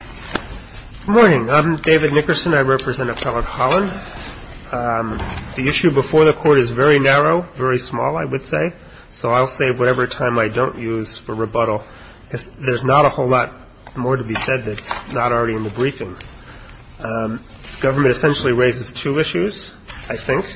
Good morning. I'm David Nickerson. I represent Appellate Holland. The issue before the Court is very narrow, very small, I would say, so I'll save whatever time I don't use for rebuttal. There's not a whole lot more to be said that's not already in the briefing. Government essentially raises two issues, I think.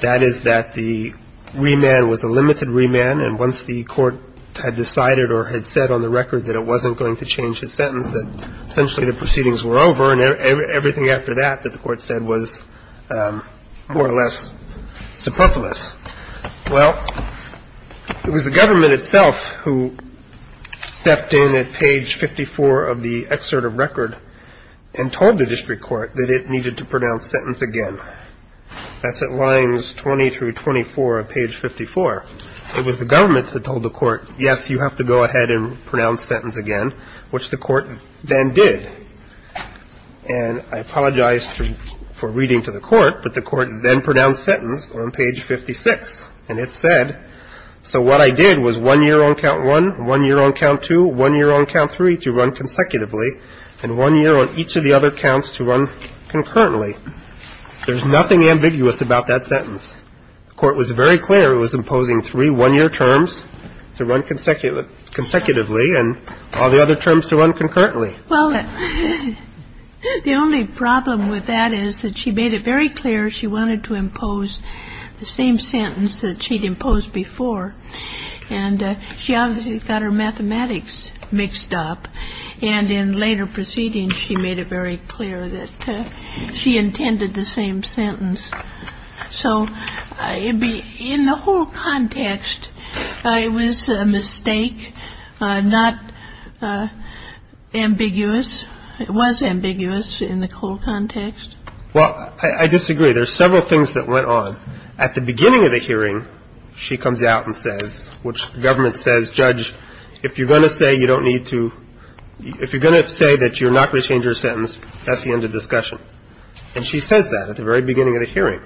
That is that the remand was a limited remand, and once the Court had decided or had said on the record that it wasn't going to change its sentence, that essentially the proceedings were over and everything after that that the Court said was more or less superfluous. Well, it was the government itself who stepped in at page 54 of the excerpt of record and told the district court that it needed to pronounce sentence again. That's at lines 20 through 24 of page 54. It was the government that told the Court, yes, you have to go ahead and pronounce sentence again, which the Court then did. And I apologize for reading to the Court, but the Court then pronounced sentence on page 56, and it said, so what I did was one year on count one, one year on count two, one year on count three to run consecutively, and one year on each of the other counts to run concurrently. There's nothing ambiguous about that sentence. The Court was very clear it was imposing three one-year terms to run consecutively and all the other terms to run concurrently. Well, the only problem with that is that she made it very clear she wanted to impose the same sentence that she'd imposed before, and she obviously got her mathematics mixed up. And in later proceedings, she made it very clear that she intended the same sentence. So in the whole context, it was a mistake, not ambiguous. It was ambiguous in the whole context. Well, I disagree. There's several things that went on. At the beginning of the hearing, she comes out and says, which the government says, Judge, if you're going to say you don't need to – if you're going to say that you're not going to change your sentence, that's the end of the discussion. And she says that at the very beginning of the hearing.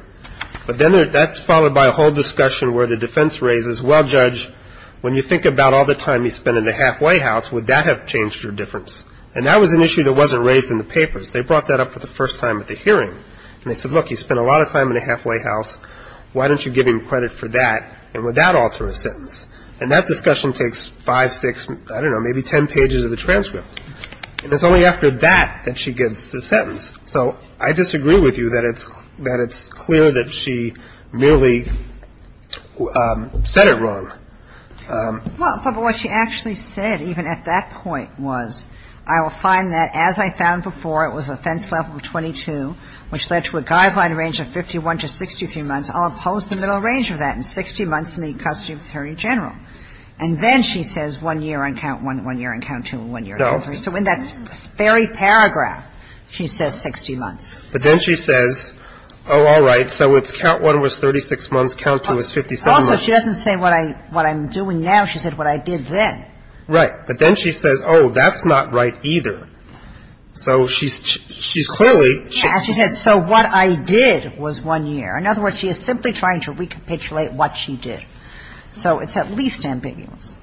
But then that's followed by a whole discussion where the defense raises, well, Judge, when you think about all the time you spent in the halfway house, would that have changed your difference? And that was an issue that wasn't raised in the papers. They brought that up for the first time at the hearing. And they said, look, you spent a lot of time in the halfway house. Why don't you give him credit for that, and would that alter his sentence? And that discussion takes five, six, I don't know, maybe ten pages of the transcript. And it's only after that that she gives the sentence. So I disagree with you that it's clear that she merely said it wrong. Well, but what she actually said even at that point was, I will find that as I found before, it was offense level 22, which led to a guideline range of 51 to 63 months. I'll impose the middle range of that in 60 months in the custody of the attorney general. And then she says one year on count one, one year on count two, one year on count three. So in that very paragraph, she says 60 months. But then she says, oh, all right, so it's count one was 36 months, count two was 57 months. Also, she doesn't say what I'm doing now. She said what I did then. Right. But then she says, oh, that's not right either. So she's clearly ‑‑ Yeah, she said, so what I did was one year. In other words, she is simply trying to recapitulate what she did. So it's at least ambiguous.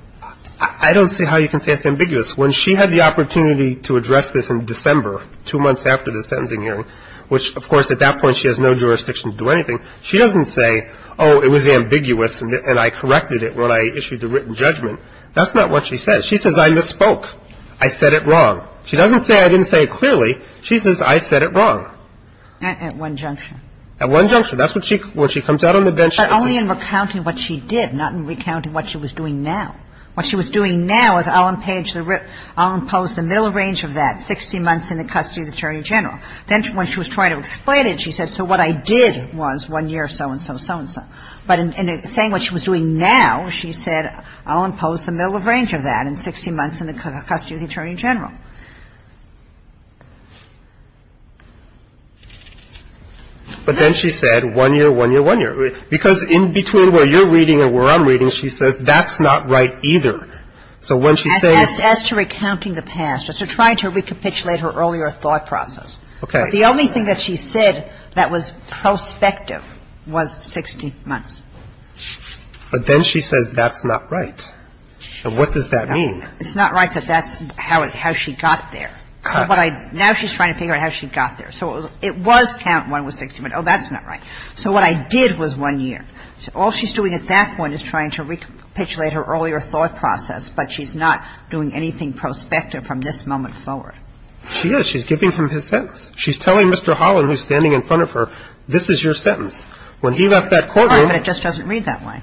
I don't see how you can say it's ambiguous. When she had the opportunity to address this in December, two months after the sentencing hearing, which, of course, at that point she has no jurisdiction to do anything, she doesn't say, oh, it was ambiguous and I corrected it when I issued the written judgment. That's not what she says. She says I misspoke. I said it wrong. She doesn't say I didn't say it clearly. She says I said it wrong. At one junction. At one junction. That's what she ‑‑ when she comes out on the bench. But only in recounting what she did, not in recounting what she was doing now. What she was doing now is I'll impose the middle range of that, 60 months in the custody of the attorney general. Then when she was trying to explain it, she said, so what I did was one year, so and so, so and so. But in saying what she was doing now, she said I'll impose the middle range of that in 60 months in the custody of the attorney general. But then she said one year, one year, one year. Because in between where you're reading and where I'm reading, she says that's not right either. So when she says ‑‑ As to recounting the past, as to trying to recapitulate her earlier thought process. Okay. But the only thing that she said that was prospective was 60 months. But then she says that's not right. And what does that mean? It's not right that that's how she got there. Now she's trying to figure out how she got there. So it was count one was 60 months. Oh, that's not right. So what I did was one year. So all she's doing at that point is trying to recapitulate her earlier thought process. But she's not doing anything prospective from this moment forward. She is. She's giving him his sentence. She's telling Mr. Holland, who's standing in front of her, this is your sentence. When he left that courtroom. But it just doesn't read that way.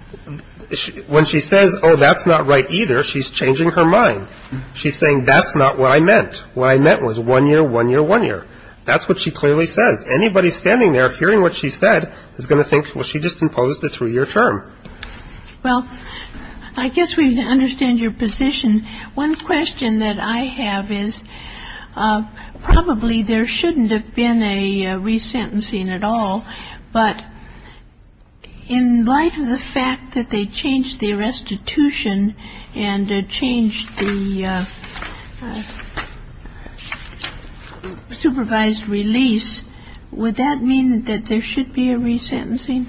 When she says, oh, that's not right either, she's changing her mind. She's saying that's not what I meant. What I meant was one year, one year, one year. That's what she clearly says. Anybody standing there hearing what she said is going to think, well, she just imposed a three-year term. Well, I guess we understand your position. One question that I have is probably there shouldn't have been a resentencing at all. But in light of the fact that they changed the restitution and changed the supervised release, would that mean that there should be a resentencing?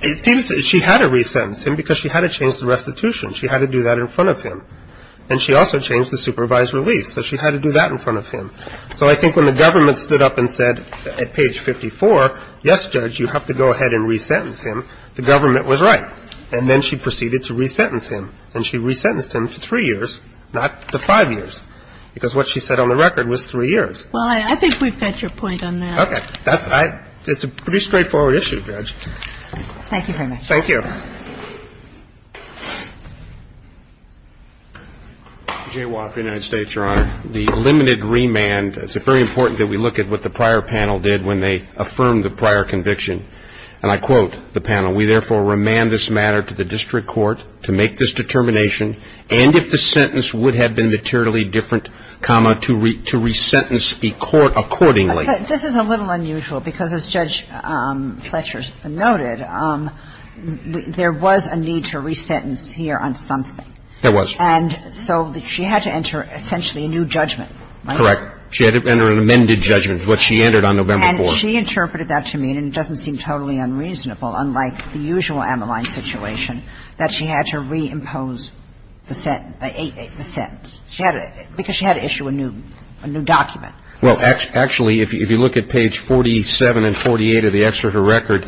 It seems she had to resentence him because she had to change the restitution. She had to do that in front of him. And she also changed the supervised release. So she had to do that in front of him. So I think when the government stood up and said at page 54, yes, Judge, you have to go ahead and resentence him, the government was right. And then she proceeded to resentence him. And she resentenced him to three years, not to five years, because what she said on the record was three years. Well, I think we've got your point on that. Okay. That's why it's a pretty straightforward issue, Judge. Thank you very much. Thank you. J. Woff, United States, Your Honor. The limited remand, it's very important that we look at what the prior panel did when they affirmed the prior conviction. And I quote the panel. We therefore remand this matter to the district court to make this determination, and if the sentence would have been materially different, comma, to resentence the court accordingly. But this is a little unusual, because as Judge Fletcher noted, there was a need to resentence here on something. There was. And so she had to enter essentially a new judgment, right? Correct. She had to enter an amended judgment, which she entered on November 4th. And she interpreted that to mean, and it doesn't seem totally unreasonable, unlike the usual Ammaline situation, that she had to reimpose the sentence. Because she had to issue a new document. Well, actually, if you look at page 47 and 48 of the excerpt of her record,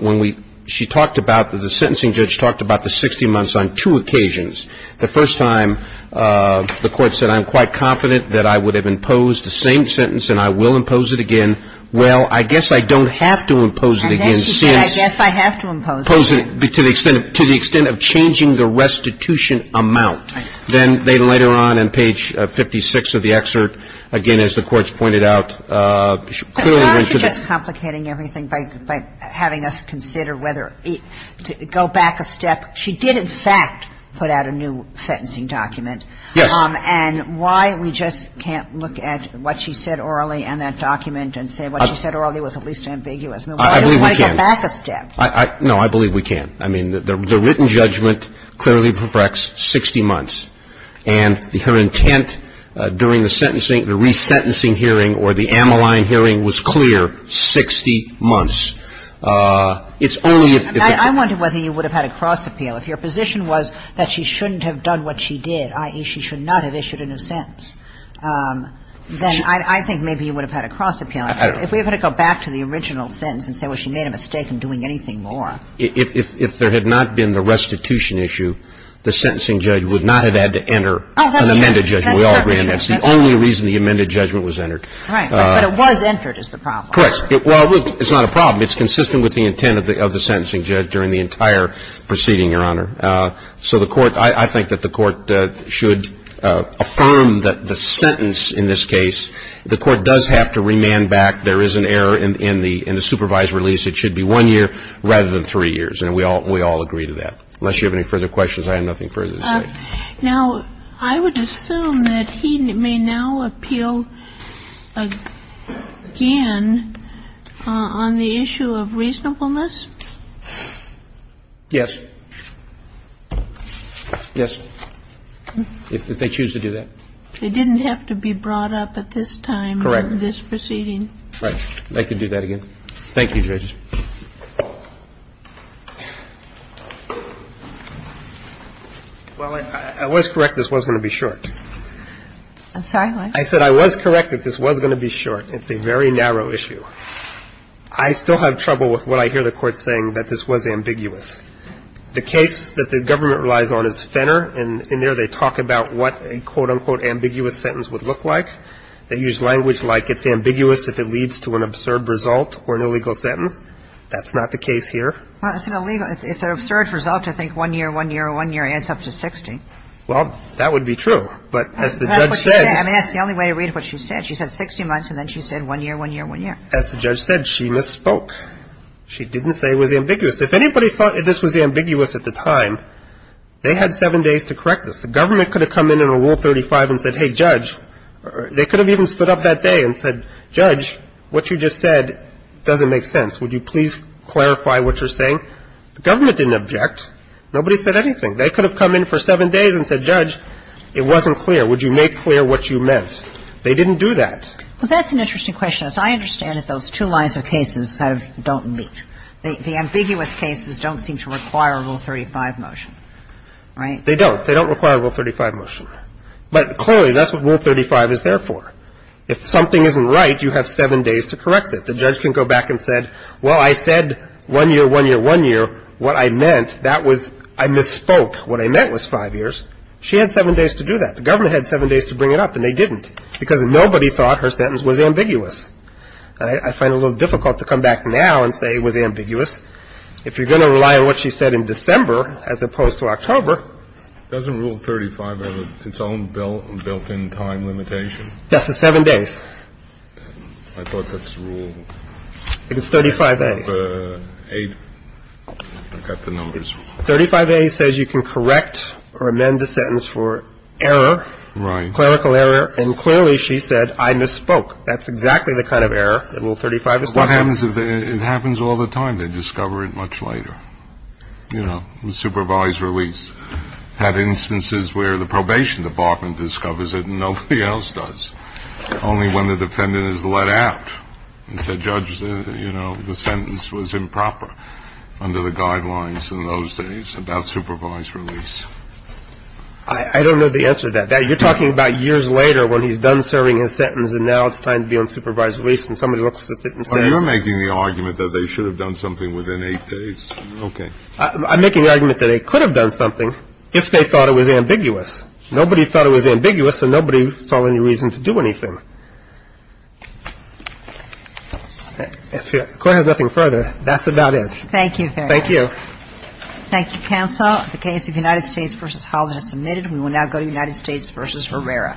when we ‑‑ she talked about, the sentencing judge talked about the 60 months on two occasions. The first time, the court said, I'm quite confident that I would have imposed the same sentence and I will impose it again. Well, I guess I don't have to impose it again, since ‑‑ And that's to say, I guess I have to impose it again. To the extent of changing the restitution amount. Then later on in page 56 of the excerpt, again, as the courts pointed out, clearly went to the ‑‑ But you're not just complicating everything by having us consider whether to go back a step. She did, in fact, put out a new sentencing document. Yes. And why we just can't look at what she said orally in that document and say what she said orally was at least ambiguous. I believe we can. Why do we want to go back a step? No, I believe we can. I mean, the written judgment clearly reflects 60 months. And her intent during the sentencing, the resentencing hearing or the Ammaline hearing was clear, 60 months. It's only if ‑‑ I wonder whether you would have had a cross appeal. If your position was that she shouldn't have done what she did, i.e., she should not have issued a new sentence, then I think maybe you would have had a cross appeal. If we were going to go back to the original sentence and say, well, she made a mistake in doing anything more. If there had not been the restitution issue, the sentencing judge would not have had to enter an amended judgment. We all agree on that. That's the only reason the amended judgment was entered. Right. But it was entered is the problem. Correct. Well, it's not a problem. It's consistent with the intent of the sentencing judge during the entire proceeding, Your Honor. So the court ‑‑ I think that the court should affirm that the sentence in this case, the court does have to remand back. There is an error in the supervised release. It should be one year rather than three years. And we all agree to that. Unless you have any further questions, I have nothing further to say. Now, I would assume that he may now appeal again on the issue of reasonableness? Yes. Yes. If they choose to do that. It didn't have to be brought up at this time in this proceeding. Correct. Right. They can do that again. Thank you, Judge. Well, I was correct this was going to be short. I'm sorry, what? I said I was correct that this was going to be short. It's a very narrow issue. I still have trouble with what I hear the court saying, that this was ambiguous. The case that the government relies on is Fenner. And in there they talk about what a quote, unquote, ambiguous sentence would look like. They use language like it's ambiguous if it leads to an absurd result or an illegal sentence. That's not the case here. Well, it's an absurd result to think one year, one year, one year adds up to 60. Well, that would be true. But as the judge said. I mean, that's the only way to read what she said. She said 60 months and then she said one year, one year, one year. As the judge said, she misspoke. She didn't say it was ambiguous. If anybody thought this was ambiguous at the time, they had seven days to correct this. The government could have come in under Rule 35 and said, hey, judge. They could have even stood up that day and said, judge, what you just said doesn't make sense. Would you please clarify what you're saying? The government didn't object. Nobody said anything. They could have come in for seven days and said, judge, it wasn't clear. Would you make clear what you meant? They didn't do that. Well, that's an interesting question. As I understand it, those two lines of cases have don't meet. The ambiguous cases don't seem to require Rule 35 motion, right? They don't. They don't require Rule 35 motion. But clearly, that's what Rule 35 is there for. If something isn't right, you have seven days to correct it. The judge can go back and say, well, I said one year, one year, one year. What I meant, that was I misspoke. What I meant was five years. She had seven days to do that. The government had seven days to bring it up and they didn't because nobody thought her sentence was ambiguous. I find it a little difficult to come back now and say it was ambiguous. If you're going to rely on what she said in December as opposed to October. Doesn't Rule 35 have its own built-in time limitation? Yes, it's seven days. I thought that's Rule 8. It's 35A. I've got the numbers. 35A says you can correct or amend the sentence for error. Right. Clerical error. And clearly, she said, I misspoke. That's exactly the kind of error that Rule 35 is talking about. It happens all the time. They discover it much later. You know, supervised release. I've had instances where the probation department discovers it and nobody else does. Only when the defendant is let out and said, Judge, you know, the sentence was improper under the guidelines in those days about supervised release. I don't know the answer to that. You're talking about years later when he's done serving his sentence and now it's time to be on supervised release and somebody looks at it and says. Well, you're making the argument that they should have done something within eight days. Okay. I'm making the argument that they could have done something if they thought it was ambiguous. Nobody thought it was ambiguous and nobody saw any reason to do anything. The Court has nothing further. That's about it. Thank you very much. Thank you. Thank you, counsel. The case of United States v. Holland is submitted. We will now go to United States v. Herrera.